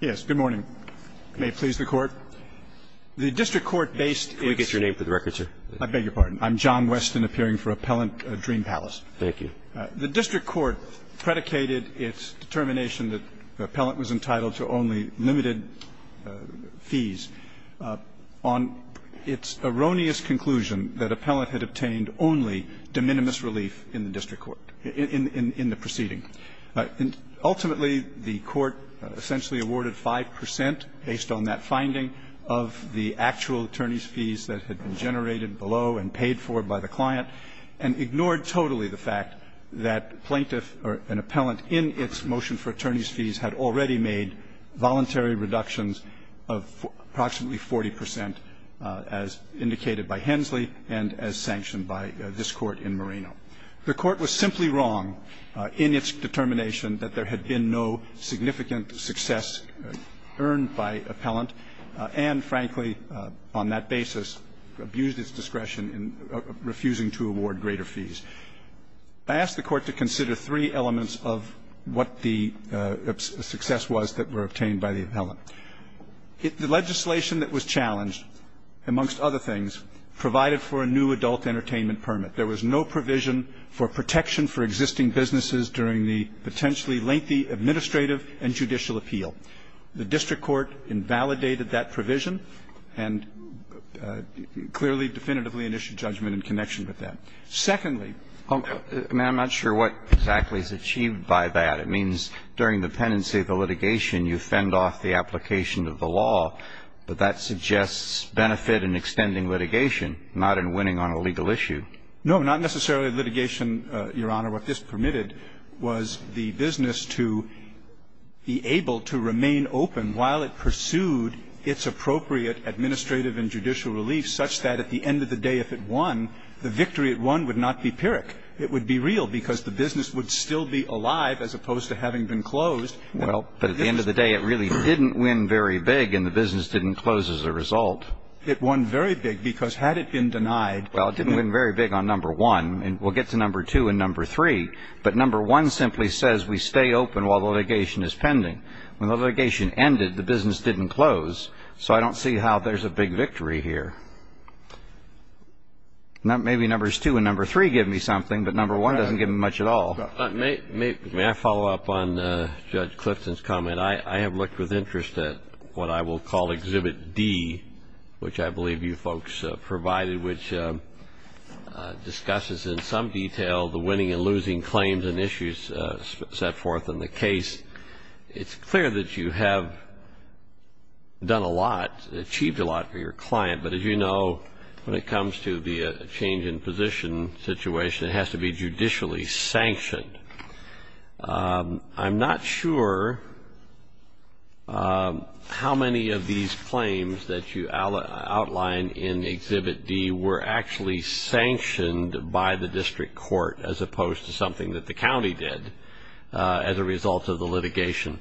yes good morning may please the court the district court based we get your name for the record sir I beg your pardon I'm John Weston appearing for appellant dream palace thank you the district court predicated its determination that the appellant was entitled to only limited fees on its erroneous conclusion that appellant had obtained only de minimis relief in the proceeding ultimately the court essentially awarded 5% based on that finding of the actual attorneys fees that had been generated below and paid for by the client and ignored totally the fact that plaintiff or an appellant in its motion for attorneys fees had already made voluntary reductions of approximately 40% as indicated by Hensley and as sanctioned by this court in Moreno the court was simply wrong in its determination that there had been no significant success earned by appellant and frankly on that basis abused its discretion in refusing to award greater fees I asked the court to consider three elements of what the success was that were obtained by the appellant if the legislation that was challenged amongst other things provided for a new adult entertainment permit there was no provision for protection for existing businesses during the potentially lengthy administrative and judicial appeal the district court invalidated that provision and clearly definitively initiate judgment in connection with that secondly I'm not sure what exactly is achieved by that it means during the pendency of the litigation you fend off the application of the law but that suggests benefit in extending litigation not in extending on a legal issue no not necessarily litigation your honor what this permitted was the business to be able to remain open while it pursued its appropriate administrative and judicial relief such that at the end of the day if it won the victory at one would not be pyrrhic it would be real because the business would still be alive as opposed to having been closed well but at the end of the day it really didn't win very big in the business didn't close as a well it didn't win very big on number one and we'll get to number two and number three but number one simply says we stay open while the litigation is pending when the litigation ended the business didn't close so I don't see how there's a big victory here not maybe numbers two and number three give me something but number one doesn't give me much at all may follow up on Judge Clifton's comment I have looked with interest at what I will call exhibit D which I believe you folks provided which discusses in some detail the winning and losing claims and issues set forth in the case it's clear that you have done a lot achieved a lot for your client but as you know when it comes to the change in position situation it has to be judicially sanctioned I'm not sure how many of these claims that you outline in exhibit D were actually sanctioned by the district court as opposed to something that the county did as a result of the litigation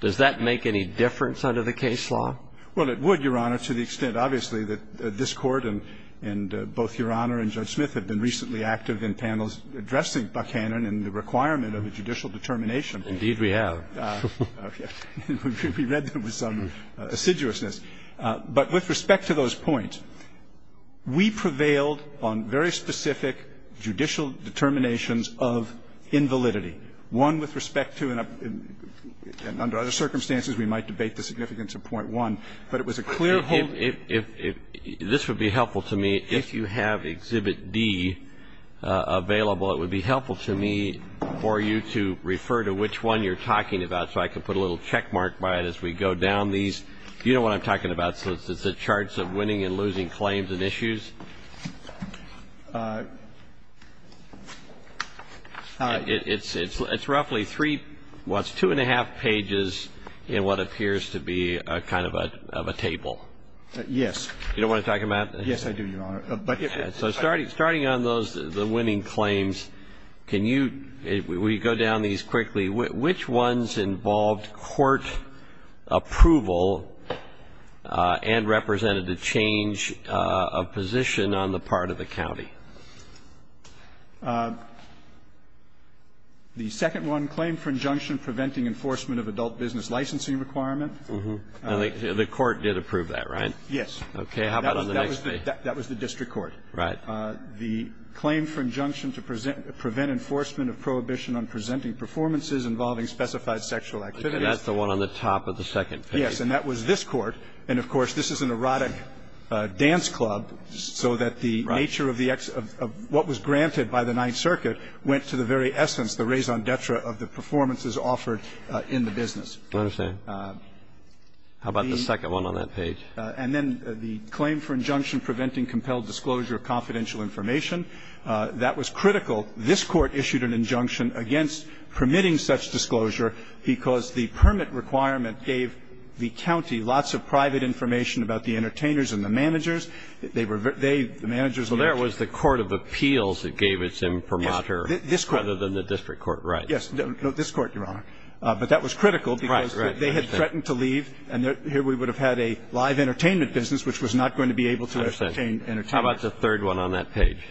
does that make any difference under the case law well it would your honor to the extent obviously that this court and and both your honor and Judge Smith had been recently active in panels addressing Buckhannon and the requirement of a judicial determination indeed we have we read there was some assiduousness but with respect to those points we prevailed on very specific judicial determinations of invalidity one with respect to and under other circumstances we might debate the significance of point one but it was a clear hold if this would be helpful to me if you have exhibit D available it would be helpful to me for you to refer to which one you're talking about so I can put a little checkmark by it as we go down these you know what I'm talking about so this is the charts of winning and losing claims and issues it's it's it's roughly three what's two and a half pages in what appears to be a kind of a table yes you don't want to talk about yes I do your starting on those the winning claims can you we go down these quickly which ones involved court approval and represented to change a position on the part of the county the second one claim for injunction preventing enforcement of adult business licensing requirement the court did approve that right yes okay that was the district court right the claim for injunction to present prevent enforcement of prohibition on presenting performances involving specified sexual activity that's the one on the top of the second yes and that was this court and of course this is an erotic dance club so that the nature of the X of what was granted by the Ninth Circuit went to the very essence the raison d'etre of the performances offered in the business how about the second one on that page and then the claim for injunction preventing compelled disclosure of confidential information that was critical this court issued an injunction against permitting such disclosure because the permit requirement gave the county lots of private information about the entertainers and the managers that they were they the managers well there was the Court of Appeals that gave its imprimatur this court other than the district court right yes no this court your honor but that was critical right right they had threatened to leave and here we would have had a live entertainment business which was not going to be able to entertain how about the third one on that page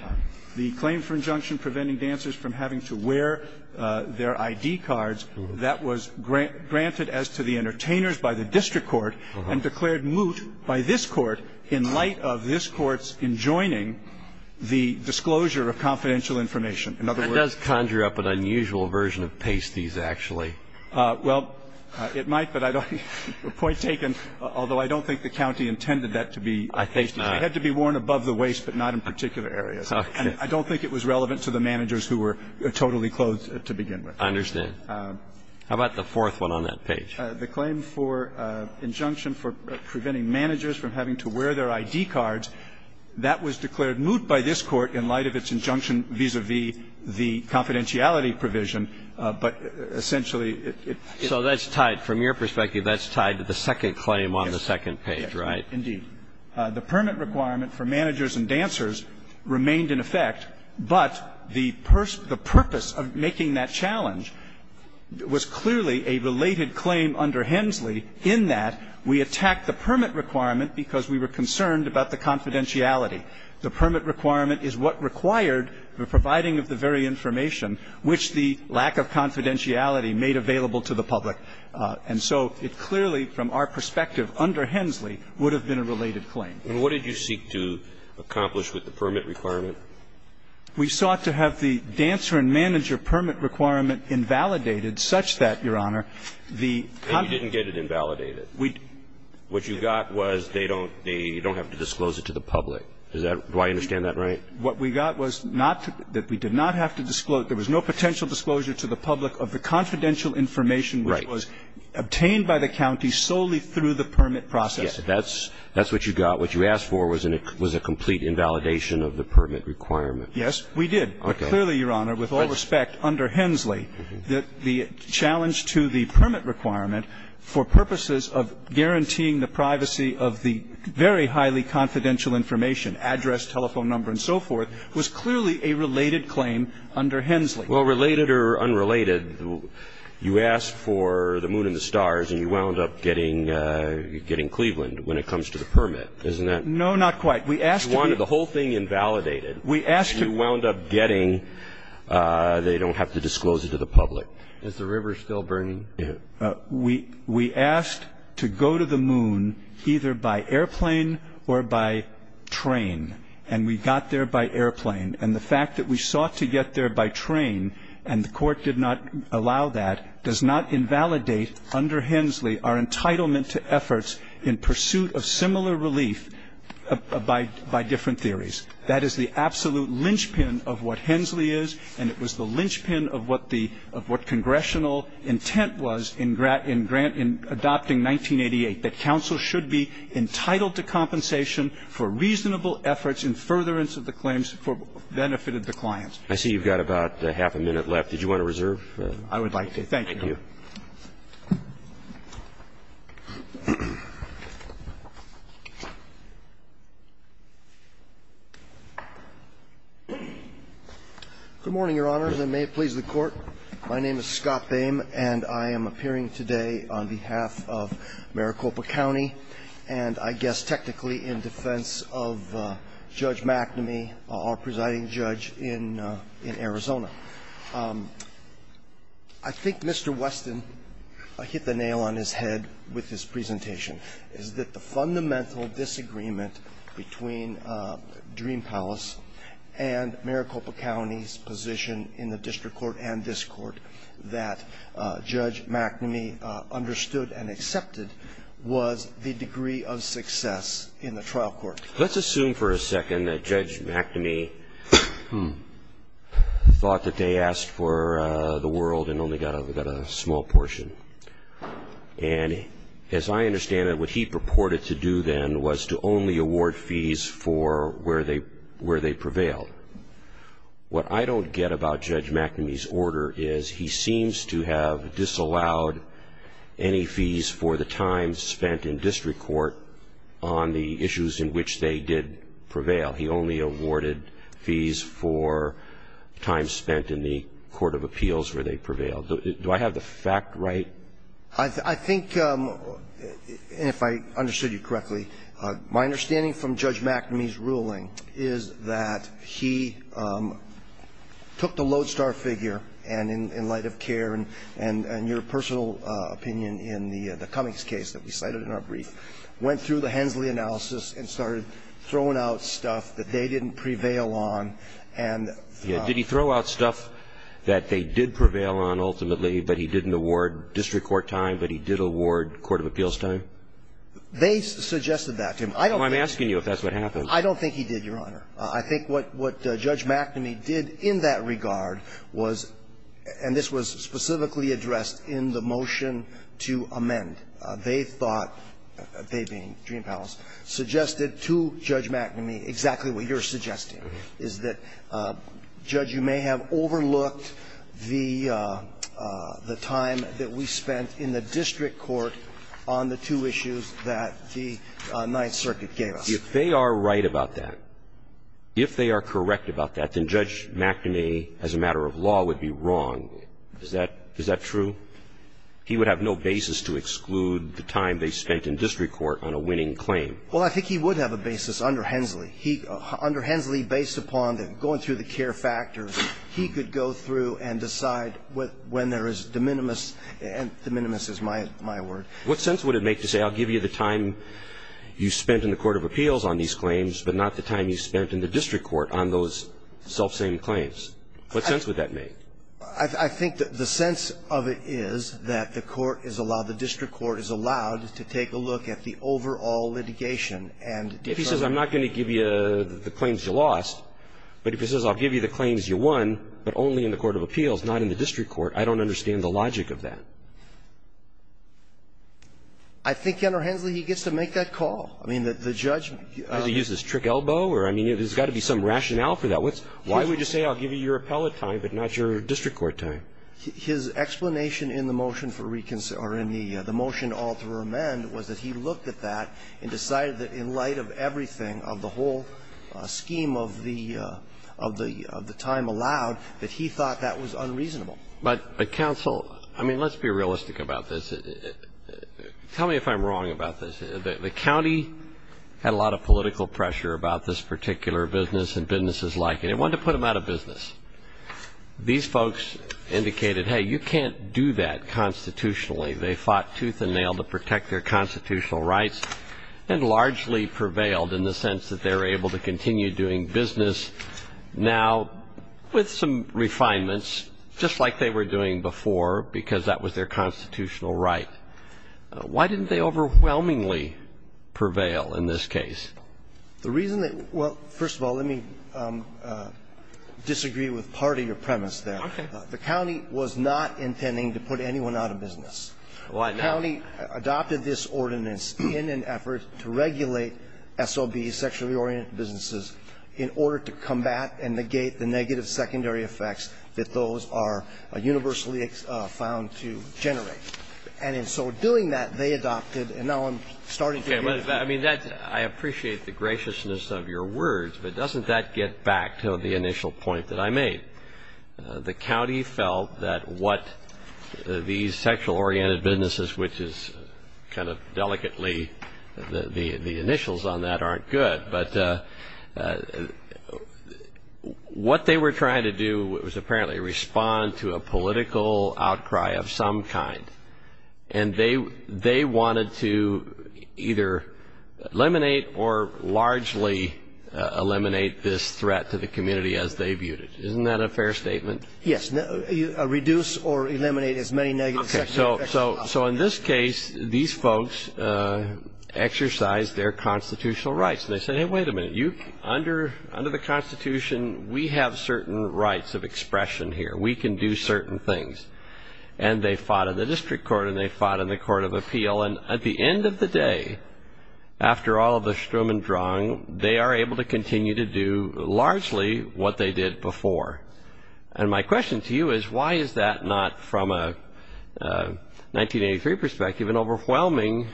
the claim for injunction preventing dancers from having to wear their ID cards that was grant granted as to the entertainers by the district court and declared moot by this court in light of this courts in joining the disclosure of confidential information in other words conjure up an unusual version of pasties actually well it might but I don't point taken although I don't think the county intended that to be I think I had to be worn above the waist but not in particular areas I don't think it was relevant to the managers who were totally closed to begin with I understand how about the fourth one on that page the claim for injunction for preventing managers from having to wear their ID cards that was declared moot by this court in light of its injunction vis-a-vis the confidentiality provision but essentially it so that's tied from your perspective that's tied to the permit requirement for managers and dancers remained in effect but the purpose of making that challenge was clearly a related claim under Hensley in that we attacked the permit requirement because we were concerned about the confidentiality the permit requirement is what required the providing of the very information which the lack of confidentiality made available to the public and so it clearly from our perspective under Hensley would have been a related claim what did you seek to accomplish with the permit requirement we sought to have the dancer and manager permit requirement invalidated such that your honor the you didn't get it invalidated we what you got was they don't they don't have to disclose it to the public is that why I understand that right what we got was not that we did not have to disclose there was no potential disclosure to the public of the confidential information obtained by the county solely through the permit process that's that's what you got what you asked for was an it was a complete invalidation of the permit requirement yes we did but clearly your honor with all respect under Hensley that the challenge to the permit requirement for purposes of guaranteeing the privacy of the very highly confidential information address telephone number and so forth was clearly a related claim under Hensley well related or unrelated you asked for the moon and the stars and you wound up getting getting Cleveland when it comes to the permit isn't that no not quite we asked one of the whole thing invalidated we asked you wound up getting they don't have to disclose it to the public is the river still burning we we asked to go to the moon either by airplane or by train and we got there by airplane and the fact that we sought to get there by train and the court did not allow that does not invalidate under Hensley our entitlement to efforts in pursuit of similar relief by by different theories that is the absolute linchpin of what Hensley is and it was the linchpin of what the of what congressional intent was in grant in grant in adopting 1988 that counsel should be entitled to compensation for reasonable efforts in furtherance of the claims for benefited the clients I see you've got about half a minute left did you want to reserve I would like to thank you Good morning, Your Honors, and may it please the Court. My name is Scott Boehm, and I am appearing today on behalf of Maricopa County and I guess technically in defense of Judge McNamee, our presiding judge in in Arizona. I think Mr. Weston hit the nail on his head with this presentation is that the fundamental disagreement between Dream Palace and Maricopa County's position in the district court and this court that Judge McNamee understood and accepted was the degree of success in the trial court. Let's assume for a second that Judge McNamee thought that they asked for the world and only got a small portion. And as I understand it, what he purported to do then was to only award fees for where they where they prevailed. What I don't get about Judge McNamee's order is he seems to have disallowed any fees for the time spent in district court on the issues in which they were dealt. He only awarded fees for time spent in the court of appeals where they prevailed. Do I have the fact right? I think, if I understood you correctly, my understanding from Judge McNamee's ruling is that he took the lodestar figure, and in light of care and your personal opinion in the Cummings case that we cited in our brief, went through the Hensley analysis and started throwing out stuff that they didn't prevail on and did he throw out stuff that they did prevail on ultimately, but he didn't award district court time, but he did award court of appeals time? They suggested that to him. I'm asking you if that's what happened. I don't think he did, Your Honor. I think what Judge McNamee did in that regard was, and this was specifically addressed in the motion to amend. They thought, they being Dream Palace, suggested to Judge McNamee exactly what you're suggesting, is that, Judge, you may have overlooked the time that we spent in the district court on the two issues that the Ninth Circuit gave us. If they are right about that, if they are correct about that, then Judge McNamee, as a matter of law, would be wrong. Is that true? He would have no basis to exclude the time they spent in district court on a winning claim. Well, I think he would have a basis under Hensley. Under Hensley, based upon going through the care factors, he could go through and decide when there is de minimis, and de minimis is my word. What sense would it make to say, I'll give you the time you spent in the court of appeals on these claims, but not the time you spent in the district court on those self-same claims? What sense would that make? I think the sense of it is that the court is allowed, the district court is allowed to take a look at the overall litigation and determine. If he says, I'm not going to give you the claims you lost, but if he says, I'll give you the claims you won, but only in the court of appeals, not in the district court, I don't understand the logic of that. I think under Hensley, he gets to make that call. I mean, the judge. Does he use his trick elbow? I mean, there's got to be some rationale for that. Why would you say, I'll give you your appellate time, but not your district court time? His explanation in the motion for reconsideration, or in the motion to alter or amend, was that he looked at that and decided that in light of everything, of the whole scheme of the time allowed, that he thought that was unreasonable. But counsel, I mean, let's be realistic about this. Tell me if I'm wrong about this. The county had a lot of political pressure about this particular business and businesses like it. It wanted to put them out of business. These folks indicated, hey, you can't do that constitutionally. They fought tooth and nail to protect their constitutional rights and largely prevailed in the sense that they were able to continue doing business. Now, with some refinements, just like they were doing before, because that was their constitutional right, why didn't they overwhelmingly prevail in this case? The reason that we're --. Well, first of all, let me disagree with part of your premise there. Okay. The county was not intending to put anyone out of business. Why not? The county adopted this ordinance in an effort to regulate SOBs, sexually oriented businesses, in order to combat and negate the negative secondary effects that those are universally found to generate. And in so doing that, they adopted, and now I'm starting to get. I mean, I appreciate the graciousness of your words, but doesn't that get back to the initial point that I made? The county felt that what these sexual oriented businesses, which is kind of delicately, the initials on that aren't good, but what they were trying to do was apparently respond to a political outcry of some kind. And they wanted to either eliminate or largely eliminate this threat to the community as they viewed it. Isn't that a fair statement? Yes. Reduce or eliminate as many negative sexual effects as possible. So in this case, these folks exercised their constitutional rights. And they said, hey, wait a minute. Under the Constitution, we have certain rights of expression here. We can do certain things. And they fought in the district court and they fought in the court of appeal. And at the end of the day, after all of the strum and drung, they are able to continue to do largely what they did before. And my question to you is, why is that not, from a 1983 perspective, an overwhelming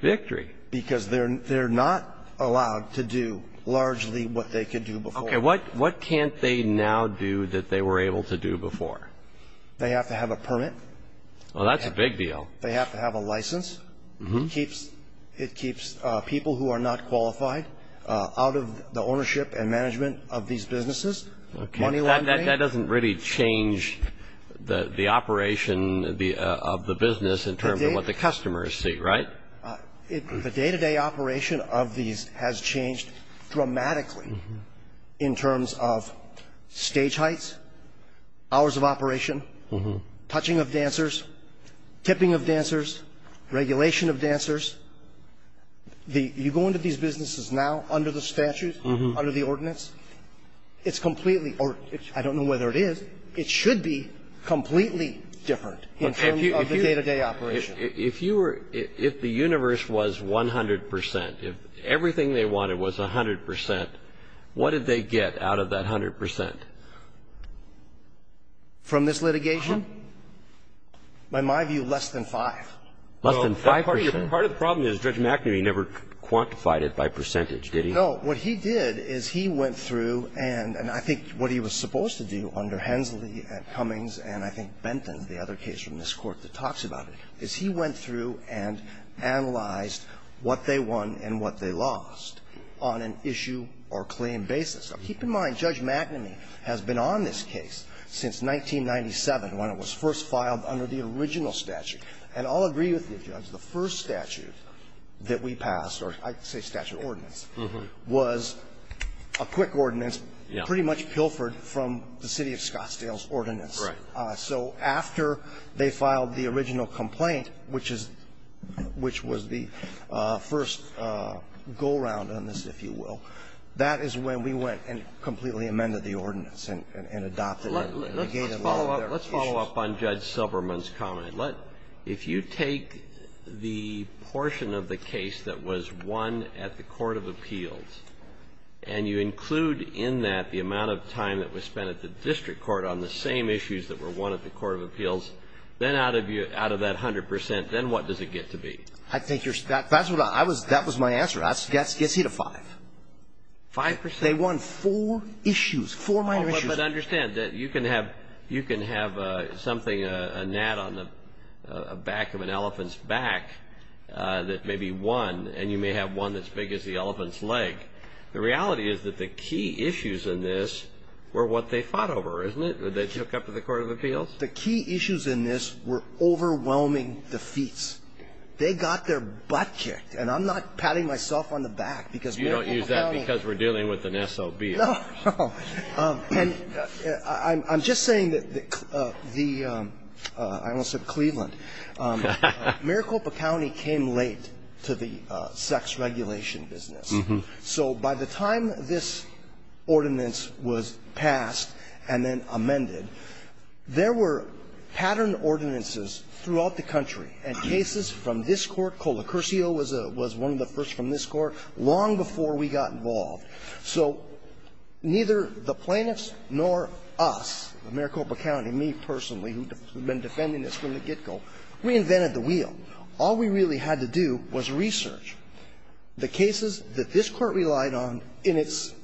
victory? Because they're not allowed to do largely what they could do before. Okay. What can't they now do that they were able to do before? They have to have a permit. Well, that's a big deal. They have to have a license. It keeps people who are not qualified out of the ownership and management of these businesses. Okay. That doesn't really change the operation of the business in terms of what the customers see, right? The day-to-day operation of these has changed dramatically in terms of stage heights, hours of operation, touching of dancers, tipping of dancers, regulation of dancers. You go into these businesses now under the statute, under the ordinance, it's completely or I don't know whether it is. It should be completely different in terms of the day-to-day operation. If the universe was 100 percent, if everything they wanted was 100 percent, what did they get out of that 100 percent? From this litigation? By my view, less than 5. Less than 5 percent? Part of the problem is Judge McNamee never quantified it by percentage, did he? No. What he did is he went through and I think what he was supposed to do under Hensley and Cummings and I think Benton, the other case from this Court that talks about it, is he went through and analyzed what they won and what they lost on an issue or claim basis. Now, keep in mind, Judge McNamee has been on this case since 1997 when it was first filed under the original statute. And I'll agree with you, Judge, the first statute that we passed, or I say statute ordinance, was a quick ordinance pretty much pilfered from the city of Scottsdale's ordinance. Right. So after they filed the original complaint, which is the first go-round on this, if you will, that is when we went and completely amended the ordinance and adopted and negated a lot of their issues. Let's follow up on Judge Silberman's comment. If you take the portion of the case that was won at the court of appeals, and you take the same issues that were won at the court of appeals, then out of that 100%, then what does it get to be? That was my answer. That gets you to five. Five percent? They won four issues, four minor issues. But understand that you can have something, a gnat on the back of an elephant's back that may be won, and you may have one as big as the elephant's leg. The reality is that the key issues in this were what they fought over, isn't it, that they took up to the court of appeals? The key issues in this were overwhelming defeats. They got their butt kicked, and I'm not patting myself on the back because Maricopa County You don't use that because we're dealing with an SOB. No. And I'm just saying that the ‑‑ I almost said Cleveland. Maricopa County came late to the sex regulation business. So by the time this ordinance was passed and then amended, there were pattern ordinances throughout the country and cases from this court, Colacurcio was one of the first from this court, long before we got involved. So neither the plaintiffs nor us, Maricopa County, me personally, who had been defending this from the get‑go, reinvented the wheel. All we really had to do was research the cases that this court relied on in its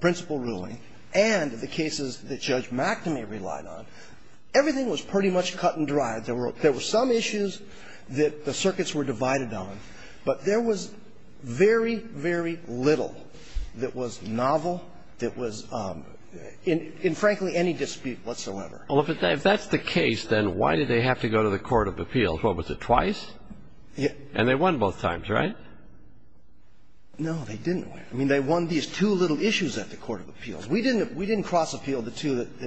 principal ruling and the cases that Judge McNamee relied on. Everything was pretty much cut and dried. There were some issues that the circuits were divided on, but there was very, very little that was novel, that was, in frankly, any dispute whatsoever. Well, if that's the case, then why did they have to go to the court of appeals? What was it, twice? Yeah. And they won both times, right? No, they didn't win. I mean, they won these two little issues at the court of appeals. We didn't cross appeal the two that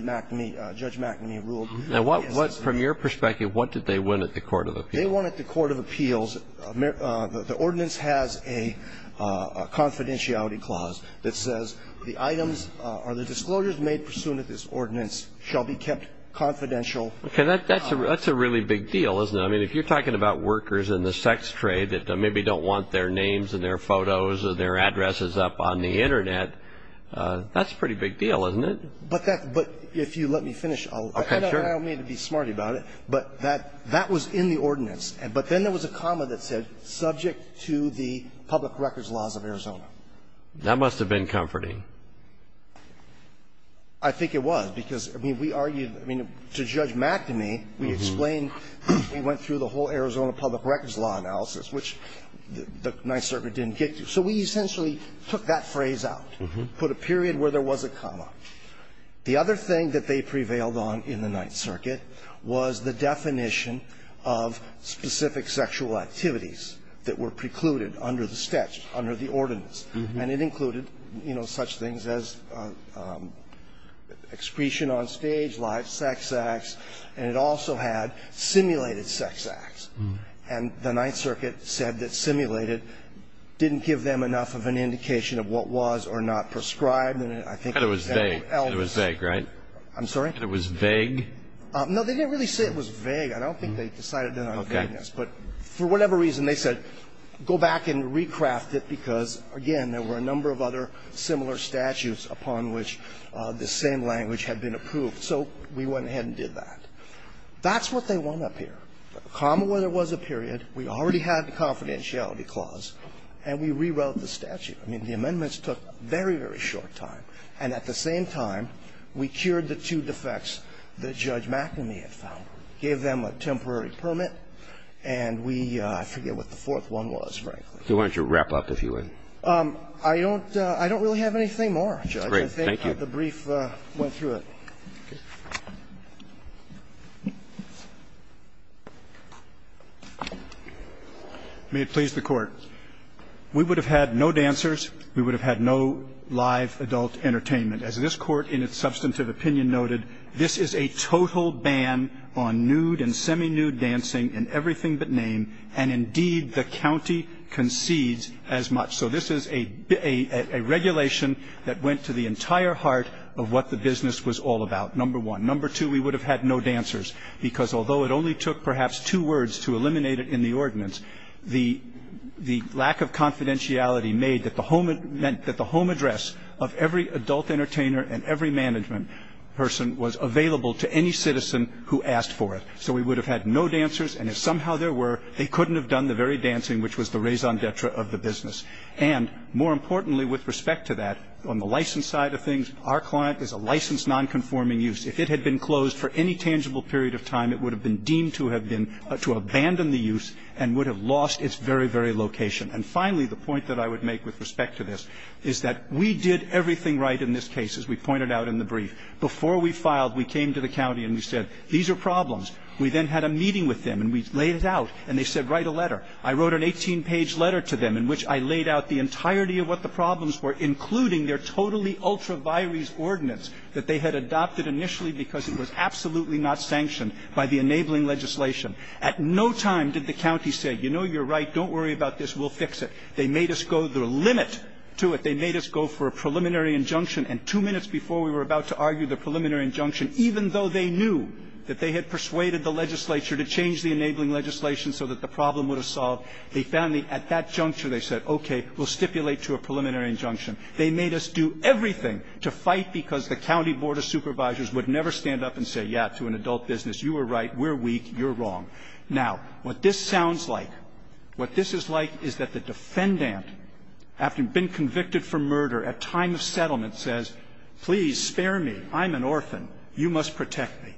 Judge McNamee ruled. Now, from your perspective, what did they win at the court of appeals? They won at the court of appeals. The ordinance has a confidentiality clause that says the items or the disclosures made pursuant to this ordinance shall be kept confidential. Okay. That's a really big deal, isn't it? I mean, if you're talking about workers in the sex trade that maybe don't want their names and their photos and their addresses up on the Internet, that's a pretty big deal, isn't it? But if you let me finish, I don't mean to be smart about it, but that was in the ordinance. But then there was a comma that said, subject to the public records laws of Arizona. That must have been comforting. I think it was, because, I mean, we argued, I mean, to Judge McNamee, we explained we went through the whole Arizona public records law analysis, which the Ninth Circuit didn't get to. So we essentially took that phrase out, put a period where there was a comma. The other thing that they prevailed on in the Ninth Circuit was the definition of specific sexual activities that were precluded under the statute, under the ordinance. And it included, you know, such things as excretion on stage, live sex acts. And it also had simulated sex acts. And the Ninth Circuit said that simulated didn't give them enough of an indication of what was or not prescribed. And I think it was vague. And it was vague, right? I'm sorry? And it was vague? No, they didn't really say it was vague. I don't think they decided on vagueness. But for whatever reason, they said, go back and recraft it, because, again, there were a number of other similar statutes upon which this same language had been approved. So we went ahead and did that. That's what they want up here. A comma where there was a period. We already had the confidentiality clause. And we rewrote the statute. I mean, the amendments took very, very short time. And at the same time, we cured the two defects that Judge McNamee had found, gave them a temporary permit, and we – I forget what the fourth one was, frankly. Why don't you wrap up, if you would? I don't really have anything more, Judge. Great. Thank you. I think the brief went through it. May it please the Court. We would have had no dancers. We would have had no live adult entertainment. As this Court in its substantive opinion noted, this is a total ban on nude and semi-nude dancing in everything but name. And indeed, the county concedes as much. So this is a regulation that went to the entire heart of what the business was all about, number one. Number two, we would have had no dancers, because although it only took perhaps two words to eliminate it in the ordinance, the lack of confidentiality meant that the home address of every adult entertainer and every management person was available to any citizen who asked for it. So we would have had no dancers, and if somehow there were, they couldn't have done the very dancing which was the raison d'etre of the business. And more importantly with respect to that, on the license side of things, our client is a licensed nonconforming use. If it had been closed for any tangible period of time, it would have been deemed to have been – to abandon the use and would have lost its very, very location. And finally, the point that I would make with respect to this is that we did everything right in this case, as we pointed out in the brief. Before we filed, we came to the county and we said, these are problems. We then had a meeting with them, and we laid it out, and they said write a letter. I wrote an 18-page letter to them in which I laid out the entirety of what the problems were, including their totally ultra-virus ordinance that they had adopted initially because it was absolutely not sanctioned by the enabling legislation. At no time did the county say, you know, you're right, don't worry about this, we'll fix it. They made us go the limit to it. They made us go for a preliminary injunction, and two minutes before we were about to argue the preliminary injunction, even though they knew that they had persuaded the legislature to change the enabling legislation so that the problem would have solved, they found at that juncture they said, okay, we'll stipulate to a preliminary injunction. They made us do everything to fight because the county board of supervisors would never stand up and say, yeah, to an adult business, you were right, we're weak, you're wrong. Now, what this sounds like, what this is like is that the defendant, after being convicted for murder at time of settlement, says, please spare me. I'm an orphan. You must protect me.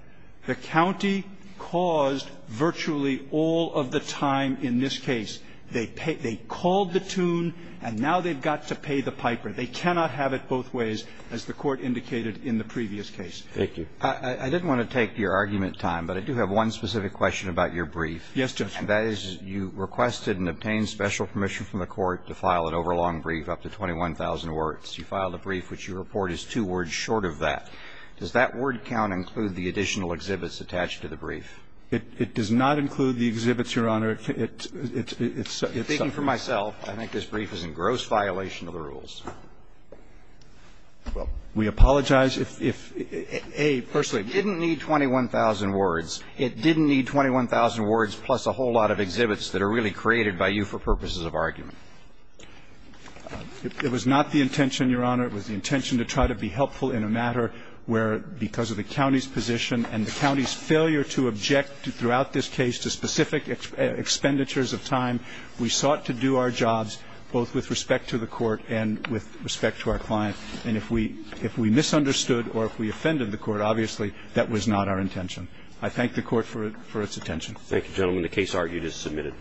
The county caused virtually all of the time in this case. They called the tune, and now they've got to pay the piper. They cannot have it both ways, as the Court indicated in the previous case. Thank you. I didn't want to take your argument time, but I do have one specific question about your brief. Yes, Justice. And that is you requested and obtained special permission from the Court to file an overlong brief up to 21,000 words. You filed a brief which you report is two words short of that. Does that word count include the additional exhibits attached to the brief? It does not include the exhibits, Your Honor. It's something else. Speaking for myself, I think this brief is in gross violation of the rules. Well, we apologize if ---- A, personally, it didn't need 21,000 words. It didn't need 21,000 words plus a whole lot of exhibits that are really created by you for purposes of argument. It was not the intention, Your Honor. It was the intention to try to be helpful in a matter where, because of the county's position and the county's failure to object throughout this case to specific expenditures of time, we sought to do our jobs both with respect to the Court and with respect to our client. And if we misunderstood or if we offended the Court, obviously that was not our intention. I thank the Court for its attention. Thank you, gentlemen. The case argued is submitted.